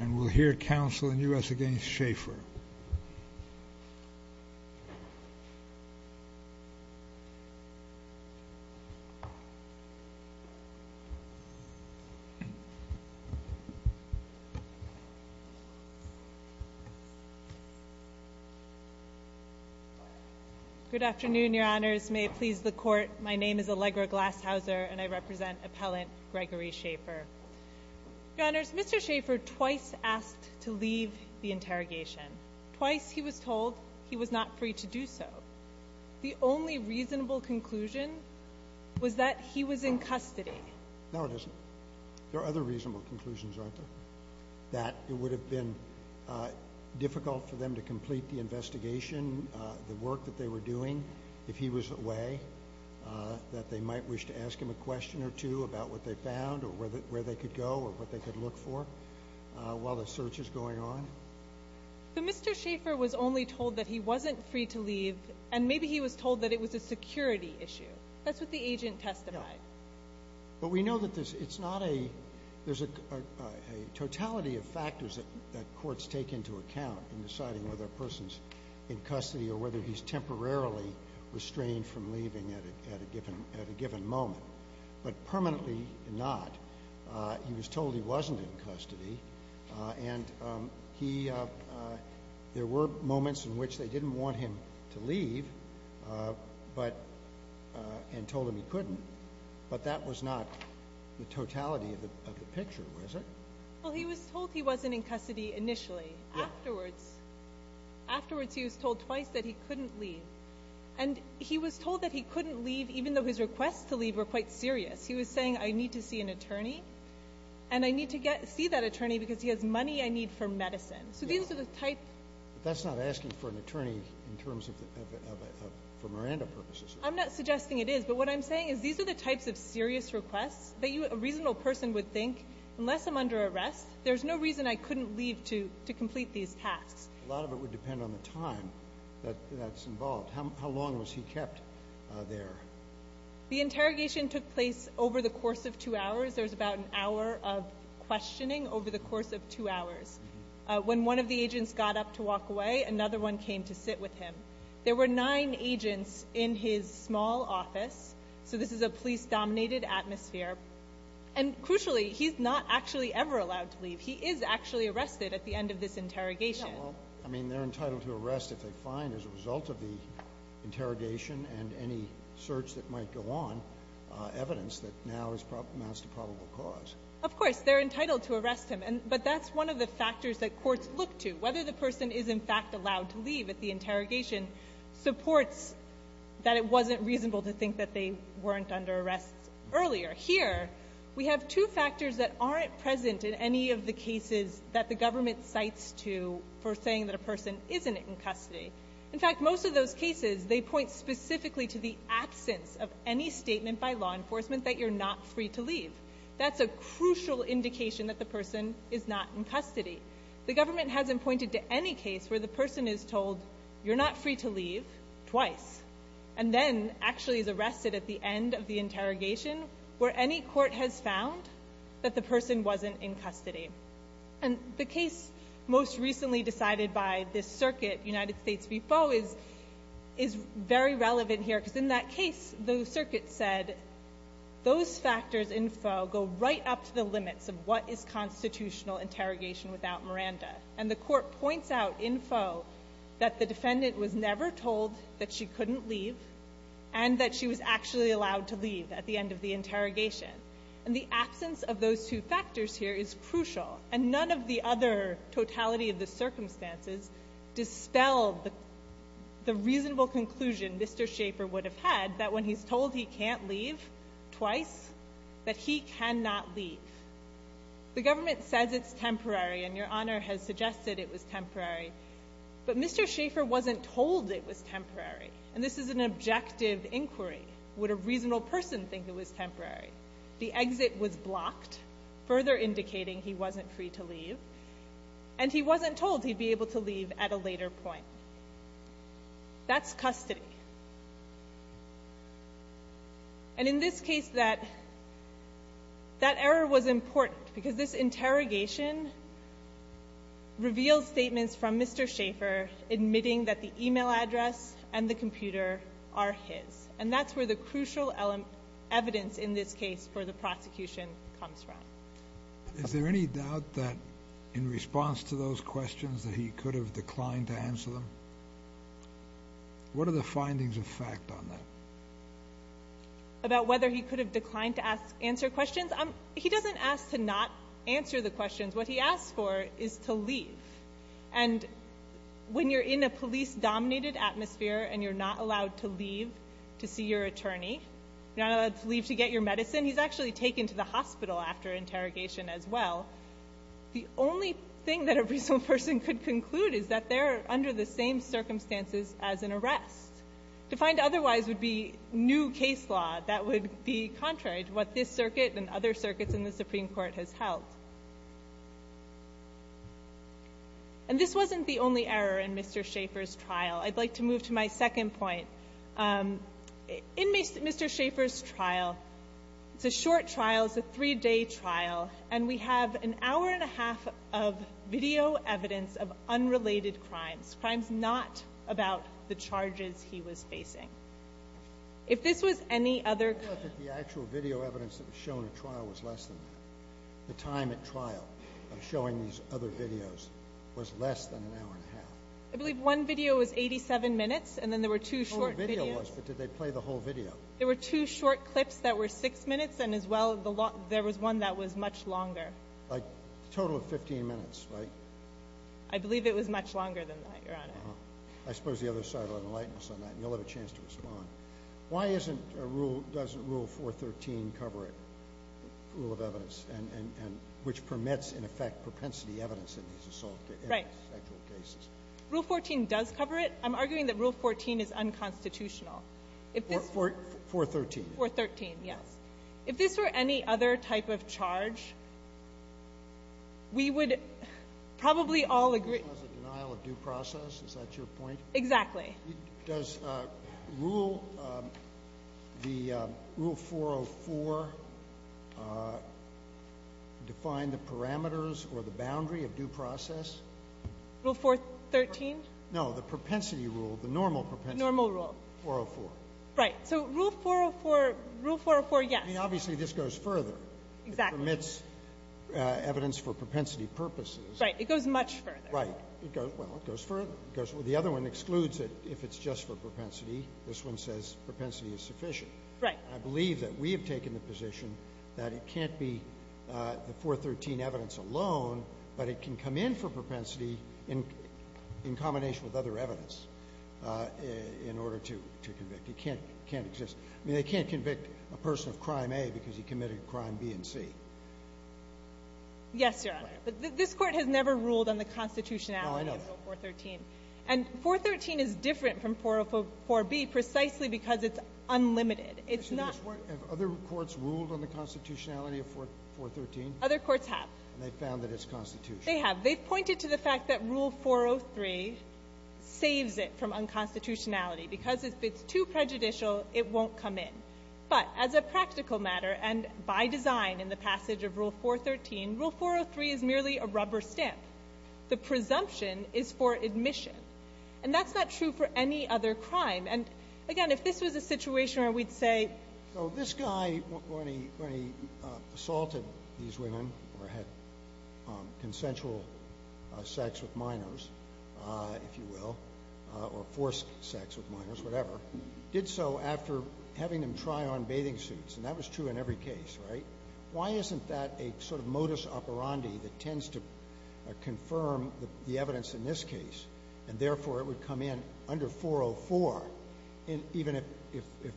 And we'll hear counsel in the U.S. against Schaefer. Good afternoon, Your Honors. May it please the Court, my name is Allegra Glasshauser and I represent Appellant Gregory Schaefer. Your Honors, Mr. Schaefer twice asked to leave the interrogation. Twice he was told he was not free to do so. The only reasonable conclusion was that he was in custody. No, it isn't. There are other reasonable conclusions, aren't there? That it would have been difficult for them to complete the investigation, the work that they were doing, if he was away. That they might wish to ask him a question or two about what they found or where they could go or what they could look for while the search is going on. But Mr. Schaefer was only told that he wasn't free to leave and maybe he was told that it was a security issue. That's what the agent testified. But we know that there's a totality of factors that courts take into account in deciding whether a person's in custody or whether he's temporarily restrained from leaving at a given moment. But permanently not. He was told he wasn't in custody and there were moments in which they didn't want him to leave and told him he couldn't. But that was not the totality of the picture, was it? Well, he was told he wasn't in custody initially. Afterwards, he was told twice that he couldn't leave. And he was told that he couldn't leave even though his requests to leave were quite serious. He was saying, I need to see an attorney and I need to see that attorney because he has money I need for medicine. But that's not asking for an attorney for Miranda purposes. I'm not suggesting it is. But what I'm saying is these are the types of serious requests that a reasonable person would think, unless I'm under arrest, there's no reason I couldn't leave to complete these tasks. A lot of it would depend on the time that's involved. How long was he kept there? The interrogation took place over the course of two hours. There was about an hour of questioning over the course of two hours. When one of the agents got up to walk away, another one came to sit with him. There were nine agents in his small office. So this is a police-dominated atmosphere. And crucially, he's not actually ever allowed to leave. He is actually arrested at the end of this interrogation. I mean, they're entitled to arrest if they find as a result of the interrogation and any search that might go on evidence that now amounts to probable cause. Of course. They're entitled to arrest him. But that's one of the factors that courts look to, whether the person is in fact allowed to leave at the interrogation, supports that it wasn't reasonable to think that they weren't under arrest earlier. Here, we have two factors that aren't present in any of the cases that the government cites for saying that a person isn't in custody. In fact, most of those cases, they point specifically to the absence of any statement by law enforcement that you're not free to leave. That's a crucial indication that the person is not in custody. The government hasn't pointed to any case where the person is told, you're not free to leave, twice, and then actually is arrested at the end of the interrogation where any court has found that the person wasn't in custody. And the case most recently decided by this circuit, United States v. Foe, is very relevant here because in that case, the circuit said, those factors in Foe go right up to the limits of what is constitutional interrogation without Miranda. And the court points out in Foe that the defendant was never told that she couldn't leave and that she was actually allowed to leave at the end of the interrogation. And the absence of those two factors here is crucial, and none of the other totality of the circumstances dispel the reasonable conclusion Mr. Schaefer would have had that when he's told he can't leave twice, that he cannot leave. The government says it's temporary, and Your Honor has suggested it was temporary, but Mr. Schaefer wasn't told it was temporary, and this is an objective inquiry. Would a reasonable person think it was temporary? The exit was blocked, further indicating he wasn't free to leave, and he wasn't told he'd be able to leave at a later point. That's custody. And in this case, that error was important, because this interrogation revealed statements from Mr. Schaefer admitting that the e-mail address and the computer are his, and that's where the crucial evidence in this case for the prosecution comes from. Is there any doubt that in response to those questions that he could have declined to answer them? What are the findings of fact on that? About whether he could have declined to answer questions? He doesn't ask to not answer the questions. What he asks for is to leave. And when you're in a police-dominated atmosphere and you're not allowed to leave to see your attorney, you're not allowed to leave to get your medicine, he's actually taken to the hospital after interrogation as well. The only thing that a reasonable person could conclude is that they're under the same circumstances as an arrest. To find otherwise would be new case law. That would be contrary to what this circuit and other circuits in the Supreme Court has held. And this wasn't the only error in Mr. Schaefer's trial. I'd like to move to my second point. In Mr. Schaefer's trial, it's a short trial, it's a three-day trial, and we have an hour-and-a-half of video evidence of unrelated crimes, crimes not about the charges he was facing. If this was any other... The actual video evidence that was shown at trial was less than that. The time at trial of showing these other videos was less than an hour-and-a-half. I believe one video was 87 minutes, and then there were two short videos. The whole video was, but did they play the whole video? There were two short clips that were six minutes, and, as well, there was one that was much longer. A total of 15 minutes, right? I believe it was much longer than that, Your Honor. I suppose the other side will enlighten us on that, and you'll have a chance to respond. Why doesn't Rule 413 cover it, the rule of evidence, which permits, in effect, propensity evidence in these assault cases? Right. Rule 14 does cover it. I'm arguing that Rule 14 is unconstitutional. 413. 413, yes. If this were any other type of charge, we would probably all agree. Denial of due process, is that your point? Exactly. Does Rule 404 define the parameters or the boundary of due process? Rule 413? No, the propensity rule, the normal propensity. Normal rule. 404. Right. So Rule 404, yes. I mean, obviously, this goes further. Exactly. It permits evidence for propensity purposes. Right. It goes much further. Right. Well, it goes further. The other one excludes it if it's just for propensity. This one says propensity is sufficient. Right. And I believe that we have taken the position that it can't be the 413 evidence alone, but it can come in for propensity in combination with other evidence in order to convict. It can't exist. I mean, they can't convict a person of Crime A because he committed Crime B and C. Yes, Your Honor. But this Court has never ruled on the constitutionality of 413. No, I know. And 413 is different from 404B precisely because it's unlimited. It's not — Have other courts ruled on the constitutionality of 413? Other courts have. And they've found that it's constitutional. They have. They've pointed to the fact that Rule 403 saves it from unconstitutionality because if it's too prejudicial, it won't come in. But as a practical matter and by design in the passage of Rule 413, Rule 403 is merely a rubber stamp. The presumption is for admission. And that's not true for any other crime. And, again, if this was a situation where we'd say —— where we assaulted these women or had consensual sex with minors, if you will, or forced sex with minors, whatever, did so after having them try on bathing suits. And that was true in every case, right? Why isn't that a sort of modus operandi that tends to confirm the evidence in this case and, therefore, it would come in under 404 even if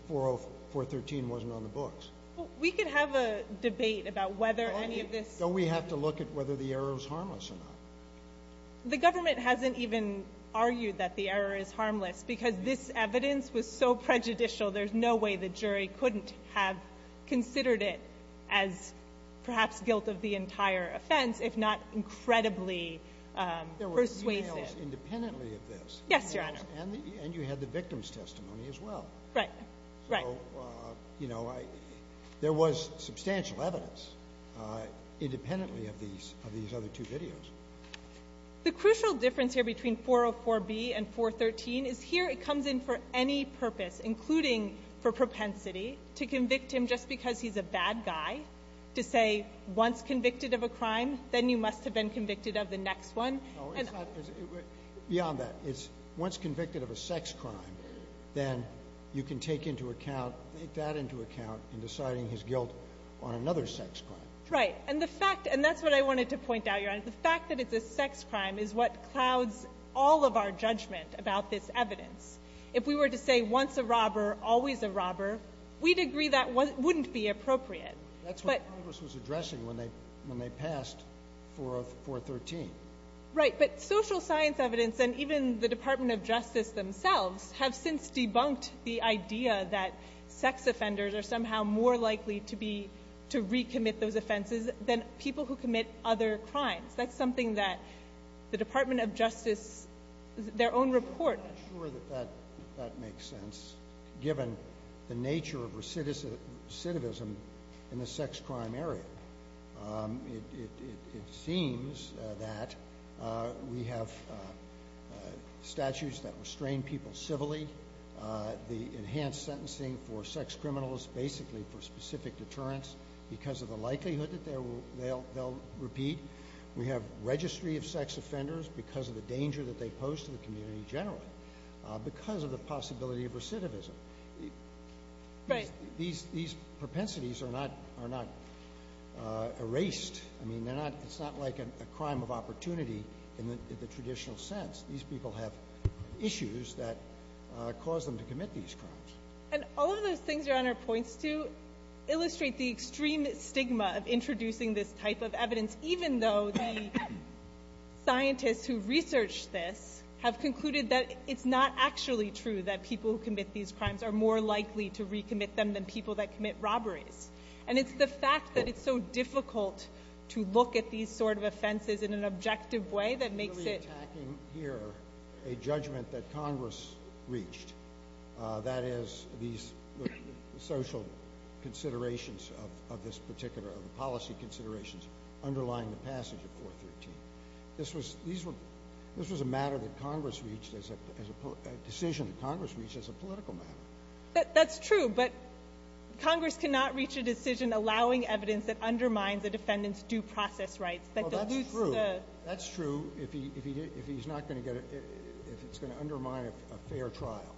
413 wasn't on the books? We could have a debate about whether any of this — Don't we have to look at whether the error is harmless or not? The government hasn't even argued that the error is harmless because this evidence was so prejudicial. There's no way the jury couldn't have considered it as perhaps guilt of the entire offense if not incredibly persuasive. There were details independently of this. Yes, Your Honor. And you had the victim's testimony as well. Right. Right. So, you know, there was substantial evidence independently of these other two videos. The crucial difference here between 404b and 413 is here it comes in for any purpose, including for propensity, to convict him just because he's a bad guy, to say once convicted of a crime, then you must have been convicted of the next one. Beyond that, it's once convicted of a sex crime, then you can take that into account in deciding his guilt on another sex crime. Right. And that's what I wanted to point out, Your Honor. The fact that it's a sex crime is what clouds all of our judgment about this evidence. If we were to say once a robber, always a robber, we'd agree that wouldn't be appropriate. That's what Congress was addressing when they passed 413. Right. But social science evidence and even the Department of Justice themselves have since debunked the idea that sex offenders are somehow more likely to be to recommit those offenses than people who commit other crimes. That's something that the Department of Justice, their own report. I'm not sure that that makes sense, given the nature of recidivism in the sex crime area. It seems that we have statutes that restrain people civilly. The enhanced sentencing for sex criminals basically for specific deterrence because of the likelihood that they'll repeat. We have registry of sex offenders because of the danger that they pose to the community generally because of the possibility of recidivism. Right. These propensities are not erased. I mean, it's not like a crime of opportunity in the traditional sense. These people have issues that cause them to commit these crimes. And all of those things Your Honor points to illustrate the extreme stigma of introducing this type of evidence, even though the scientists who researched this have concluded that it's not actually true that people who commit these crimes are more likely to recommit them than people that commit robberies. And it's the fact that it's so difficult to look at these sort of offenses in an objective way that makes it We're reattacking here a judgment that Congress reached. That is, these social considerations of this particular policy considerations underlying the passage of 413. This was a matter that Congress reached as a decision that Congress reached as a political matter. That's true. But Congress cannot reach a decision allowing evidence that undermines a defendant's due process rights. That's true. That's true if it's going to undermine a fair trial.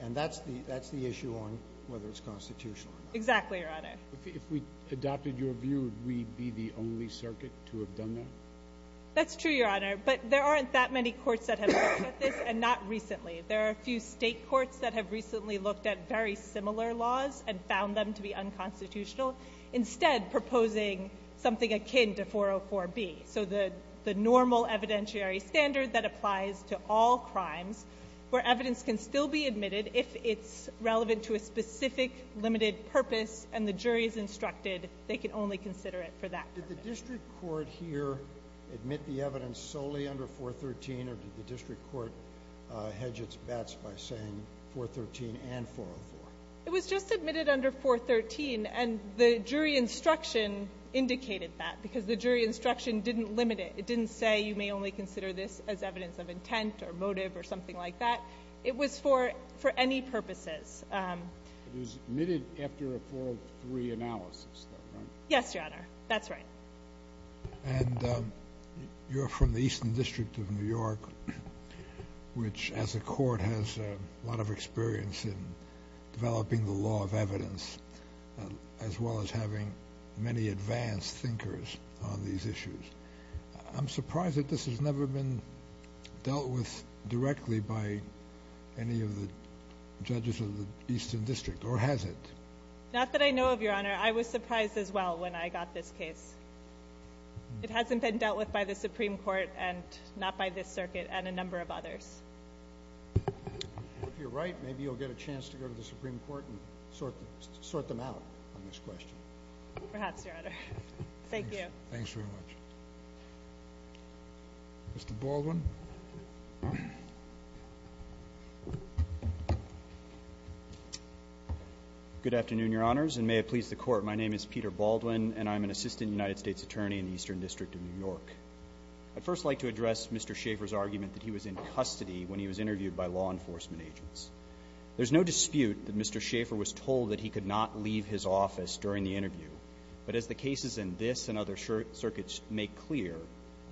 And that's the issue on whether it's constitutional or not. Exactly, Your Honor. If we adopted your view, would we be the only circuit to have done that? That's true, Your Honor. But there aren't that many courts that have looked at this, and not recently. There are a few state courts that have recently looked at very similar laws and found them to be unconstitutional, instead proposing something akin to 404B, so the normal evidentiary standard that applies to all crimes where evidence can still be admitted if it's relevant to a specific limited purpose and the jury is instructed they can only consider it for that purpose. Did the district court here admit the evidence solely under 413, or did the district court hedge its bets by saying 413 and 404? It was just admitted under 413, and the jury instruction indicated that, because the jury instruction didn't limit it. It didn't say you may only consider this as evidence of intent or motive or something like that. It was for any purposes. It was admitted after a 403 analysis, though, right? Yes, Your Honor. That's right. And you're from the Eastern District of New York, which as a court has a lot of experience in developing the law of evidence, as well as having many advanced thinkers on these issues. I'm surprised that this has never been dealt with directly by any of the judges of the Eastern District, or has it? Not that I know of, Your Honor. I was surprised as well when I got this case. It hasn't been dealt with by the Supreme Court and not by this circuit and a number of others. If you're right, maybe you'll get a chance to go to the Supreme Court and sort them out on this question. Perhaps, Your Honor. Thank you. Thanks very much. Mr. Baldwin. Good afternoon, Your Honors, and may it please the Court. My name is Peter Baldwin, and I'm an assistant United States attorney in the Eastern District of New York. I'd first like to address Mr. Schaffer's argument that he was in custody when he was interviewed by law enforcement agents. There's no dispute that Mr. Schaffer was told that he could not leave his office during the interview, but as the cases in this and other circuits make clear,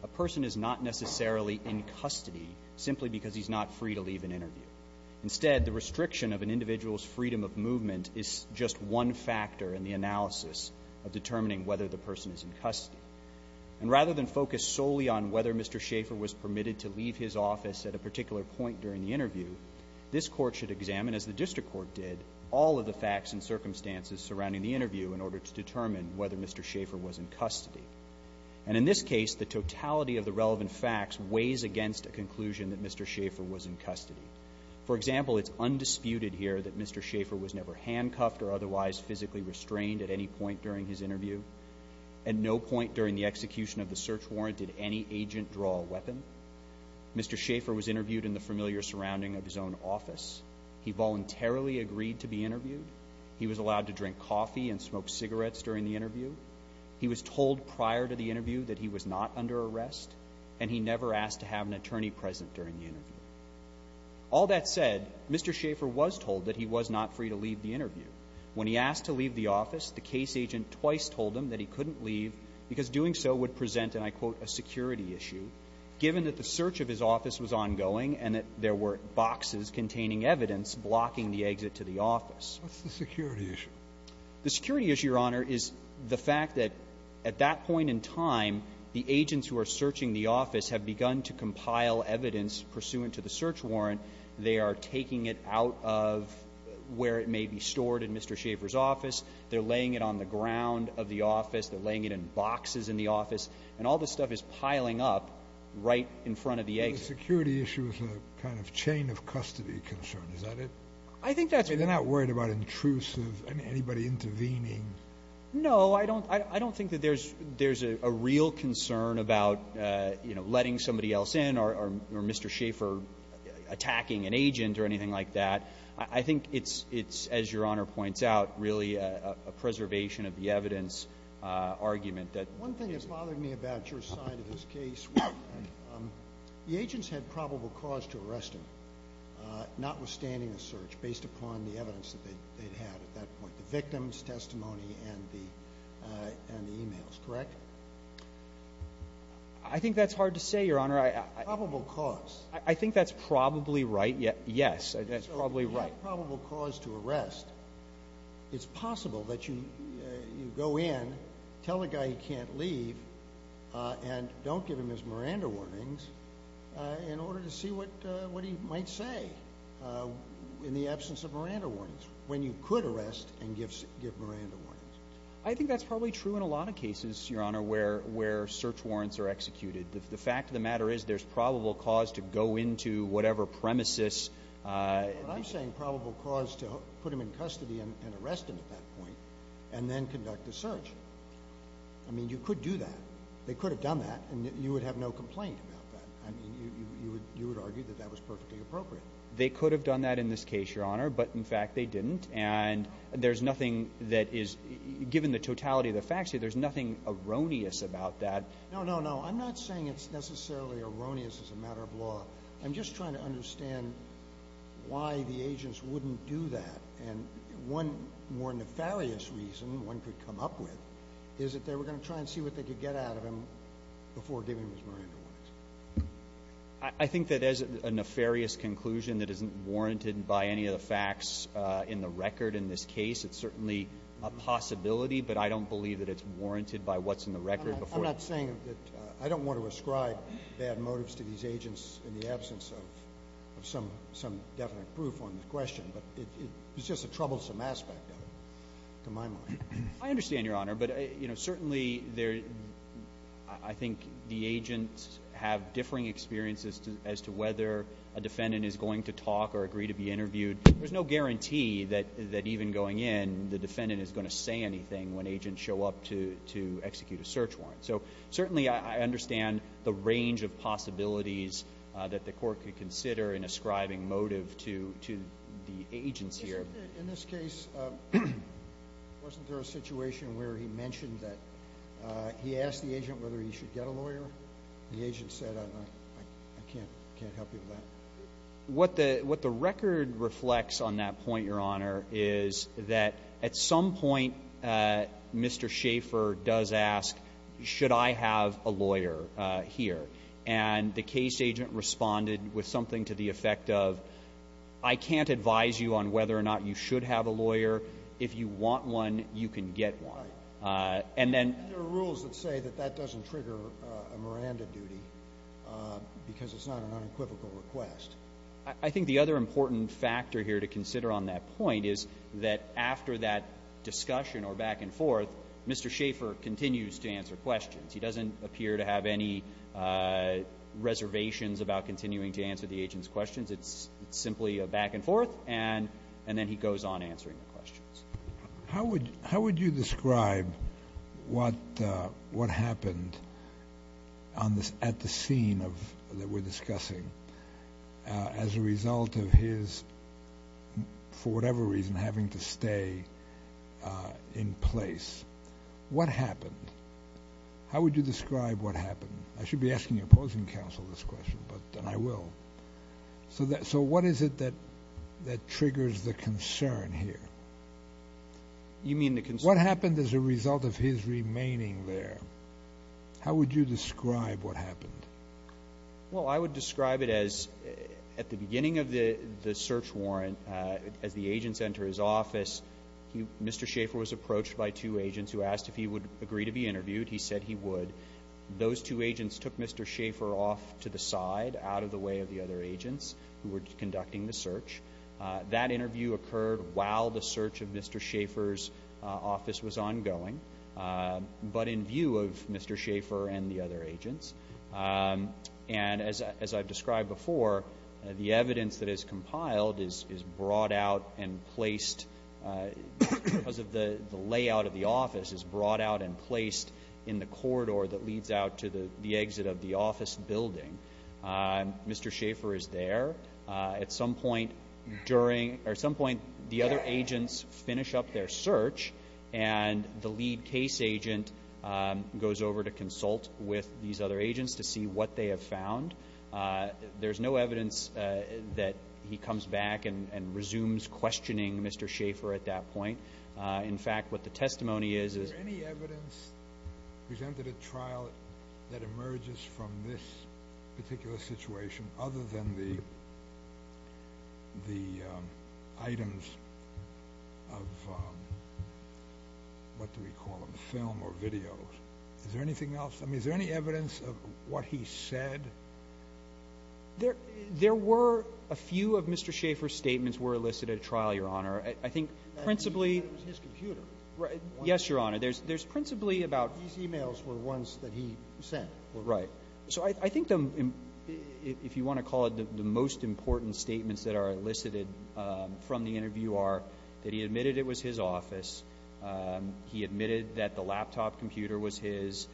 a person is not necessarily in custody simply because he's not free to leave an interview. Instead, the restriction of an individual's freedom of movement is just one factor in the analysis of determining whether the person is in custody. And rather than focus solely on whether Mr. Schaffer was permitted to leave his office at a particular point during the interview, this Court should examine, as the district court did, all of the facts and circumstances surrounding the interview in order to determine whether Mr. Schaffer was in custody. And in this case, the totality of the relevant facts weighs against a conclusion that Mr. Schaffer was in custody. For example, it's undisputed here that Mr. Schaffer was never handcuffed or otherwise physically restrained at any point during his interview. At no point during the execution of the search warrant did any agent draw a weapon. Mr. Schaffer was interviewed in the familiar surrounding of his own office. He voluntarily agreed to be interviewed. He was allowed to drink coffee and smoke cigarettes during the interview. He was told prior to the interview that he was not under arrest, and he never asked to have an attorney present during the interview. All that said, Mr. Schaffer was told that he was not free to leave the interview. When he asked to leave the office, the case agent twice told him that he couldn't leave because doing so would present, and I quote, a security issue, given that the search of his office was ongoing and that there were boxes containing evidence blocking the exit to the office. What's the security issue? The security issue, Your Honor, is the fact that at that point in time, the agents who are searching the office have begun to compile evidence pursuant to the search warrant. They are taking it out of where it may be stored in Mr. Schaffer's office. They're laying it on the ground of the office. They're laying it in boxes in the office. And all this stuff is piling up right in front of the exit. The security issue is a kind of chain of custody concern. Is that it? I think that's right. They're not worried about intrusive, anybody intervening? No. I don't think that there's a real concern about letting somebody else in or Mr. Schaffer attacking an agent or anything like that. I think it's, as Your Honor points out, really a preservation of the evidence argument. One thing that bothered me about your side of this case, the agents had probable cause to arrest him, notwithstanding a search based upon the evidence that they'd had at that point, the victim's testimony and the e-mails, correct? I think that's hard to say, Your Honor. Probable cause. I think that's probably right, yes. That's probably right. If you have probable cause to arrest, it's possible that you go in, tell a guy he can't leave, and don't give him his Miranda warnings in order to see what he might say in the absence of Miranda warnings, when you could arrest and give Miranda warnings. I think that's probably true in a lot of cases, Your Honor, where search warrants are executed. The fact of the matter is there's probable cause to go into whatever premises. But I'm saying probable cause to put him in custody and arrest him at that point and then conduct a search. I mean, you could do that. They could have done that, and you would have no complaint about that. I mean, you would argue that that was perfectly appropriate. They could have done that in this case, Your Honor, but, in fact, they didn't, and there's nothing that is, given the totality of the facts, there's nothing erroneous about that. No, no, no. I'm just trying to understand why the agents wouldn't do that. And one more nefarious reason one could come up with is that they were going to try and see what they could get out of him before giving him his Miranda warnings. I think that as a nefarious conclusion that isn't warranted by any of the facts in the record in this case, it's certainly a possibility, but I don't believe that it's warranted by what's in the record before. I'm not saying that I don't want to ascribe bad motives to these agents in the absence of some definite proof on the question, but it's just a troublesome aspect of it to my mind. I understand, Your Honor, but certainly I think the agents have differing experiences as to whether a defendant is going to talk or agree to be interviewed. There's no guarantee that even going in the defendant is going to say anything when agents show up to execute a search warrant. So certainly I understand the range of possibilities that the court could consider in ascribing motive to the agents here. In this case, wasn't there a situation where he mentioned that he asked the agent whether he should get a lawyer? The agent said, I can't help you with that. What the record reflects on that point, Your Honor, is that at some point Mr. Schaffer does ask, should I have a lawyer here? And the case agent responded with something to the effect of, I can't advise you on whether or not you should have a lawyer. If you want one, you can get one. There are rules that say that that doesn't trigger a Miranda duty because it's not an unequivocal request. I think the other important factor here to consider on that point is that after that discussion or back and forth, Mr. Schaffer continues to answer questions. He doesn't appear to have any reservations about continuing to answer the agent's questions. It's simply a back and forth, and then he goes on answering the questions. How would you describe what happened at the scene that we're discussing as a result of his, for whatever reason, having to stay in place? What happened? How would you describe what happened? I should be asking the opposing counsel this question, and I will. So what is it that triggers the concern here? You mean the concern? What happened as a result of his remaining there? How would you describe what happened? Well, I would describe it as at the beginning of the search warrant, as the agents enter his office, Mr. Schaffer was approached by two agents who asked if he would agree to be interviewed. He said he would. Those two agents took Mr. Schaffer off to the side, out of the way of the other agents who were conducting the search. That interview occurred while the search of Mr. Schaffer's office was ongoing, but in view of Mr. Schaffer and the other agents. And as I've described before, the evidence that is compiled is brought out and placed, because the layout of the office is brought out and placed in the corridor that leads out to the exit of the office building. Mr. Schaffer is there. At some point, the other agents finish up their search, and the lead case agent goes over to consult with these other agents to see what they have found. There's no evidence that he comes back and resumes questioning Mr. Schaffer at that point. In fact, what the testimony is, is any evidence presented at trial that emerges from this particular situation, other than the items of, what do we call them, film or video? Is there anything else? I mean, is there any evidence of what he said? There were a few of Mr. Schaffer's statements were elicited at trial, Your Honor. I think principally. His computer. Yes, Your Honor. There's principally about. These e-mails were ones that he sent. Right. So I think if you want to call it the most important statements that are elicited from the interview are that he admitted it was his office, he admitted that the laptop computer was his,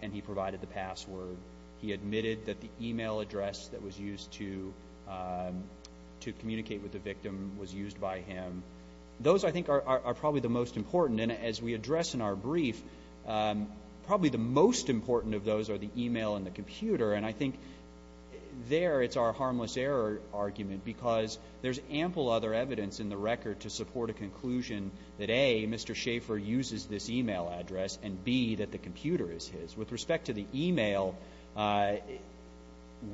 and he provided the password. He admitted that the e-mail address that was used to communicate with the victim was used by him. Those, I think, are probably the most important. And as we address in our brief, probably the most important of those are the e-mail and the computer. And I think there it's our harmless error argument because there's ample other evidence in the record to support a conclusion that, A, Mr. Schaffer uses this e-mail address, and, B, that the computer is his. With respect to the e-mail,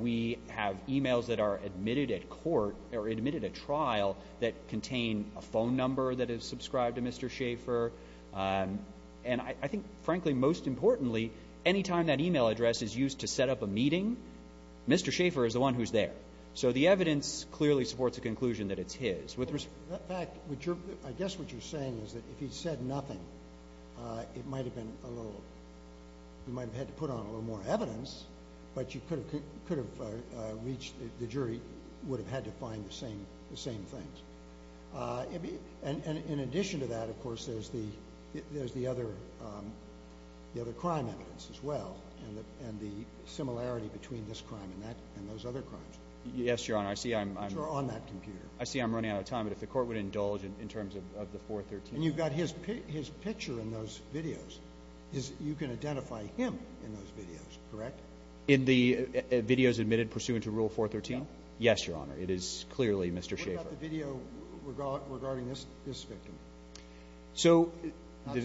we have e-mails that are admitted at court or admitted at trial that contain a phone number that is subscribed to Mr. Schaffer. And I think, frankly, most importantly, any time that e-mail address is used to set up a meeting, Mr. Schaffer is the one who's there. So the evidence clearly supports a conclusion that it's his. In fact, I guess what you're saying is that if he said nothing, it might have been a little ‑‑ he might have had to put on a little more evidence, but you could have reached the jury would have had to find the same things. In addition to that, of course, there's the other crime evidence as well and the similarity between this crime and those other crimes. Yes, Your Honor. Which are on that computer. I see I'm running out of time, but if the court would indulge in terms of the 413. And you've got his picture in those videos. You can identify him in those videos, correct? In the videos admitted pursuant to Rule 413? No. Yes, Your Honor. It is clearly Mr. Schaffer. What about the video regarding this victim? Not so much.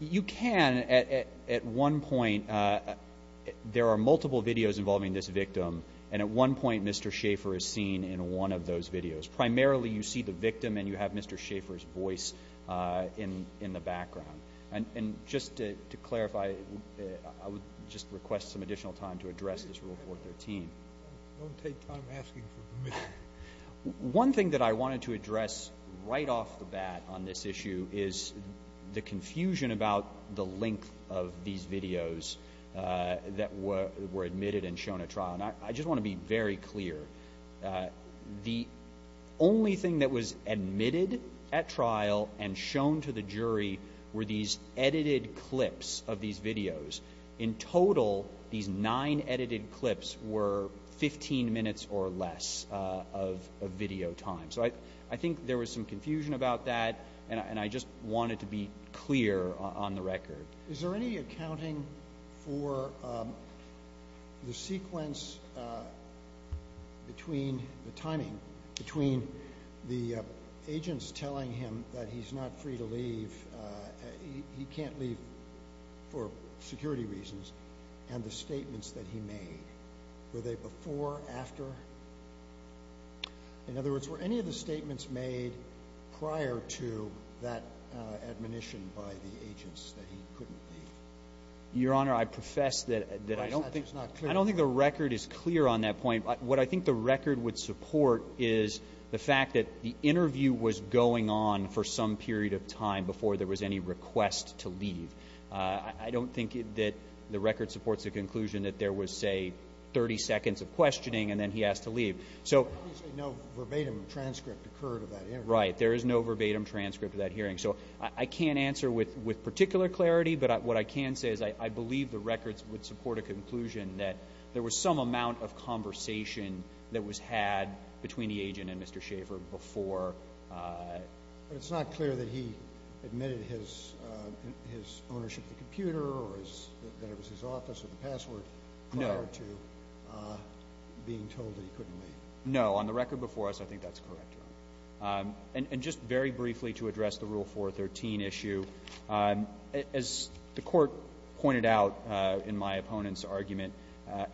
You can at one point. There are multiple videos involving this victim, and at one point Mr. Schaffer is seen in one of those videos. Primarily you see the victim and you have Mr. Schaffer's voice in the background. And just to clarify, I would just request some additional time to address this Rule 413. Don't take time asking for permission. One thing that I wanted to address right off the bat on this issue is the confusion about the length of these videos that were admitted and shown at trial. And I just want to be very clear. The only thing that was admitted at trial and shown to the jury were these edited clips of these videos. In total, these nine edited clips were 15 minutes or less of video time. So I think there was some confusion about that, and I just wanted to be clear on the record. Is there any accounting for the sequence between the timing, between the agents telling him that he's not free to leave, he can't leave for security reasons, and the statements that he made? Were they before, after? In other words, were any of the statements made prior to that admonition by the agents that he couldn't leave? Your Honor, I profess that I don't think the record is clear on that point. What I think the record would support is the fact that the interview was going on for some period of time before there was any request to leave. I don't think that the record supports the conclusion that there was, say, 30 seconds of questioning and then he asked to leave. Obviously no verbatim transcript occurred of that interview. Right. There is no verbatim transcript of that hearing. So I can't answer with particular clarity, but what I can say is I believe the records would support a conclusion that there was some amount of conversation that was had between the agent and Mr. Schaffer before. But it's not clear that he admitted his ownership of the computer or that it was his office or the password prior to being told that he couldn't leave. No. On the record before us, I think that's correct, Your Honor. And just very briefly to address the Rule 413 issue, as the Court pointed out in my opponent's argument,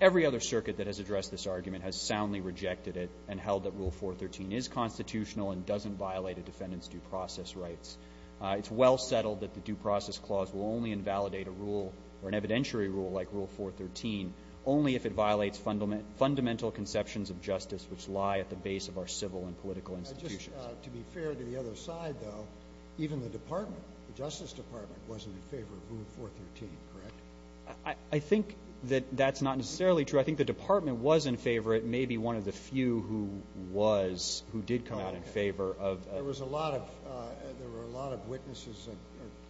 every other circuit that has addressed this argument has soundly rejected it and held that Rule 413 is constitutional and doesn't violate a defendant's due process rights. It's well settled that the due process clause will only invalidate a rule or an evidentiary rule like Rule 413 only if it violates fundamental conceptions of justice which lie at the base of our civil and political institutions. To be fair to the other side, though, even the Department, the Justice Department, wasn't in favor of Rule 413, correct? I think that that's not necessarily true. I think the Department was in favor. It may be one of the few who was, who did come out in favor. There were a lot of witnesses or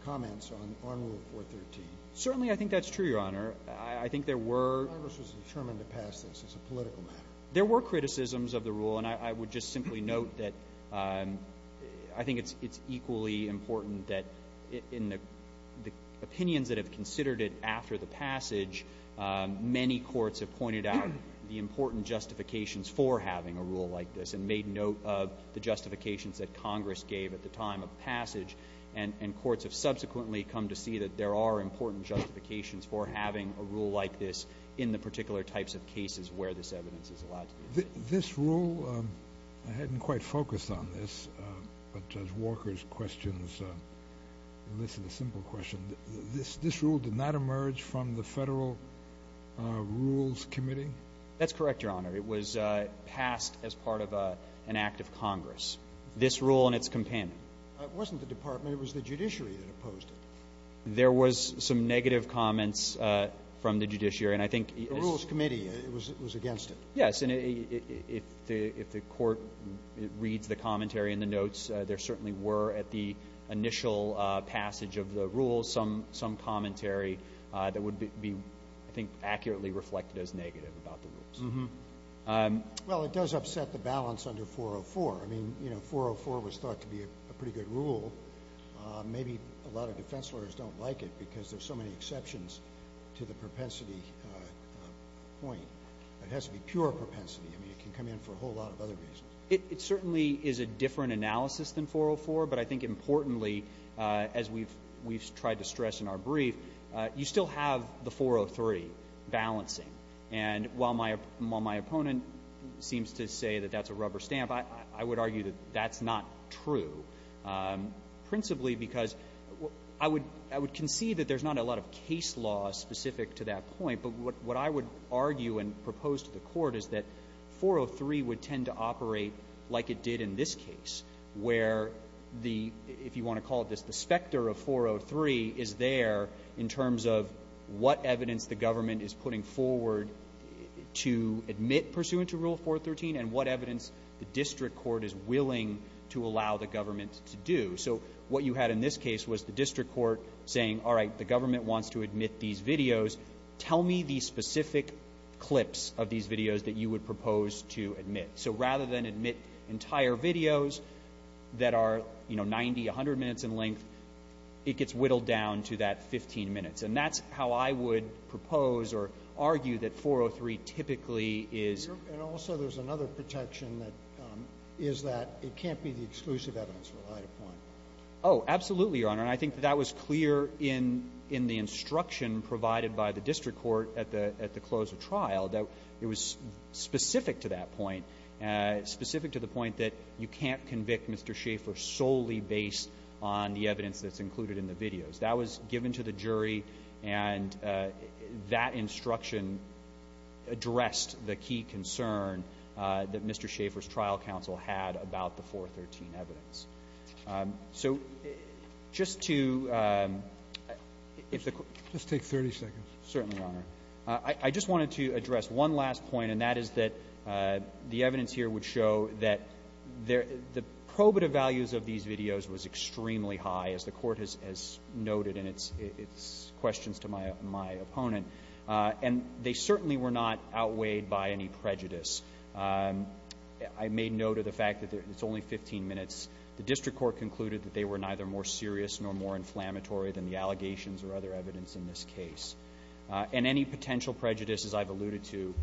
comments on Rule 413. Certainly, I think that's true, Your Honor. I think there were— Congress was determined to pass this as a political matter. There were criticisms of the rule, and I would just simply note that I think it's equally important that in the opinions that have considered it after the passage, many courts have pointed out the important justifications for having a rule like this and made note of the justifications that Congress gave at the time of passage, and courts have subsequently come to see that there are important justifications for having a rule like this in the particular types of cases where this evidence is allowed. This rule, I hadn't quite focused on this, but as Walker's questions elicit a simple question, this rule did not emerge from the Federal Rules Committee? That's correct, Your Honor. It was passed as part of an act of Congress. This rule and its companion. It wasn't the Department. It was the judiciary that opposed it. There was some negative comments from the judiciary, and I think— The Rules Committee was against it. Yes, and if the court reads the commentary in the notes, there certainly were at the initial passage of the rule some commentary that would be, I think, accurately reflected as negative about the rules. Well, it does upset the balance under 404. I mean, 404 was thought to be a pretty good rule. Maybe a lot of defense lawyers don't like it because there's so many exceptions to the propensity point. It has to be pure propensity. I mean, it can come in for a whole lot of other reasons. It certainly is a different analysis than 404, but I think importantly, as we've tried to stress in our brief, you still have the 403 balancing. And while my opponent seems to say that that's a rubber stamp, I would argue that that's not true, principally because I would conceive that there's not a lot of case law specific to that point. But what I would argue and propose to the court is that 403 would tend to operate like it did in this case, where the—if you want to call it this, the specter of 403 is there in terms of what evidence the government is putting forward to admit pursuant to Rule 413 and what evidence the district court is willing to allow the government to do. So what you had in this case was the district court saying, all right, the government wants to admit these videos. Tell me the specific clips of these videos that you would propose to admit. So rather than admit entire videos that are, you know, 90, 100 minutes in length, it gets whittled down to that 15 minutes. And that's how I would propose or argue that 403 typically is— And also there's another protection that is that it can't be the exclusive evidence relied upon. Oh, absolutely, Your Honor. And I think that that was clear in the instruction provided by the district court at the close of trial, that it was specific to that point, specific to the point that you can't convict Mr. Schaffer solely based on the evidence that's included in the videos. That was given to the jury, and that instruction addressed the key concern that Mr. Schaffer's trial counsel had about the 413 evidence. So just to— Just take 30 seconds. Certainly, Your Honor. I just wanted to address one last point, and that is that the evidence here would show that the probative values of these videos was extremely high, as the Court has noted in its questions to my opponent. And they certainly were not outweighed by any prejudice. I made note of the fact that it's only 15 minutes. The district court concluded that they were neither more serious nor more inflammatory than the allegations or other evidence in this case. And any potential prejudice, as I've alluded to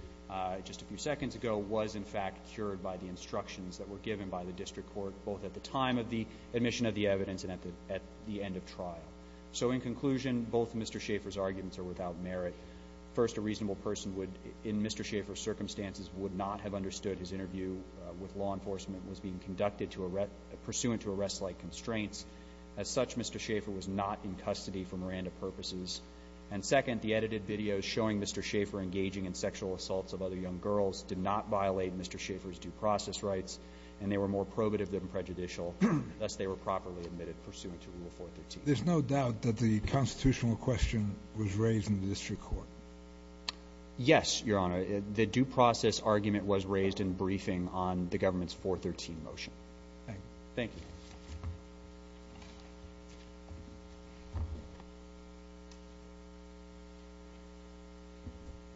just a few seconds ago, was in fact cured by the instructions that were given by the district court, both at the time of the admission of the evidence and at the end of trial. So in conclusion, both Mr. Schaffer's arguments are without merit. First, a reasonable person in Mr. Schaffer's circumstances would not have understood his interview with law enforcement was being conducted pursuant to arrest-like constraints. As such, Mr. Schaffer was not in custody for Miranda purposes. And second, the edited videos showing Mr. Schaffer engaging in sexual assaults of other young girls did not violate Mr. Schaffer's due process rights, and they were more probative than prejudicial. Thus, they were properly admitted pursuant to Rule 413. There's no doubt that the constitutional question was raised in the district court? Yes, Your Honor. The due process argument was raised in briefing on the government's 413 motion. Thank you. Thank you.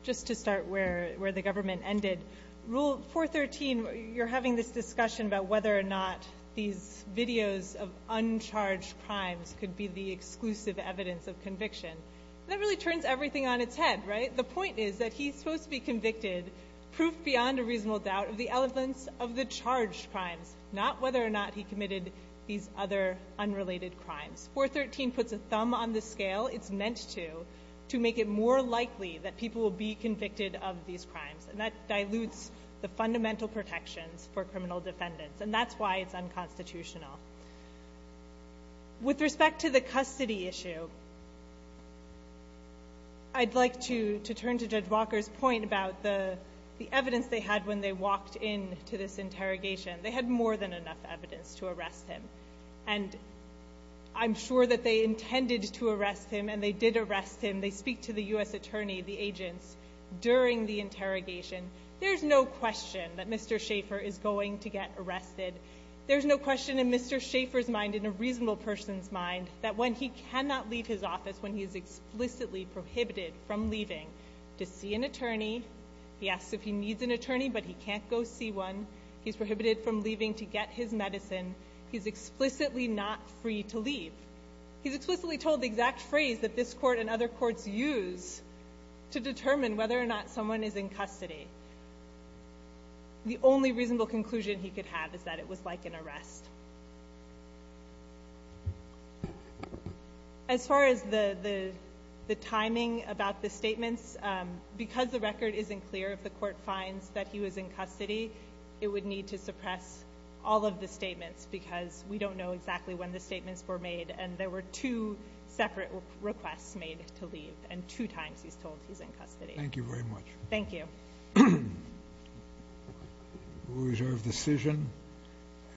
Just to start where the government ended, Rule 413, you're having this discussion about whether or not these videos of uncharged crimes could be the exclusive evidence of conviction. That really turns everything on its head, right? The point is that he's supposed to be convicted, proof beyond a reasonable doubt, of the elements of the charged crimes, not whether or not he committed these other unrelated crimes. 413 puts a thumb on the scale it's meant to, to make it more likely that people will be convicted of these crimes. That dilutes the fundamental protections for criminal defendants, and that's why it's unconstitutional. With respect to the custody issue, I'd like to turn to Judge Walker's point about the evidence they had when they walked into this interrogation. They had more than enough evidence to arrest him, and I'm sure that they intended to arrest him, and they did arrest him. When they speak to the U.S. attorney, the agents, during the interrogation, there's no question that Mr. Schaffer is going to get arrested. There's no question in Mr. Schaffer's mind, in a reasonable person's mind, that when he cannot leave his office, when he is explicitly prohibited from leaving to see an attorney, he asks if he needs an attorney, but he can't go see one. He's prohibited from leaving to get his medicine. He's explicitly not free to leave. He's explicitly told the exact phrase that this court and other courts use to determine whether or not someone is in custody. The only reasonable conclusion he could have is that it was like an arrest. As far as the timing about the statements, because the record isn't clear, if the court finds that he was in custody, it would need to suppress all of the statements, because we don't know exactly when the statements were made, and there were two separate requests made to leave, and two times he's told he's in custody. Thank you very much. Thank you. We reserve decision.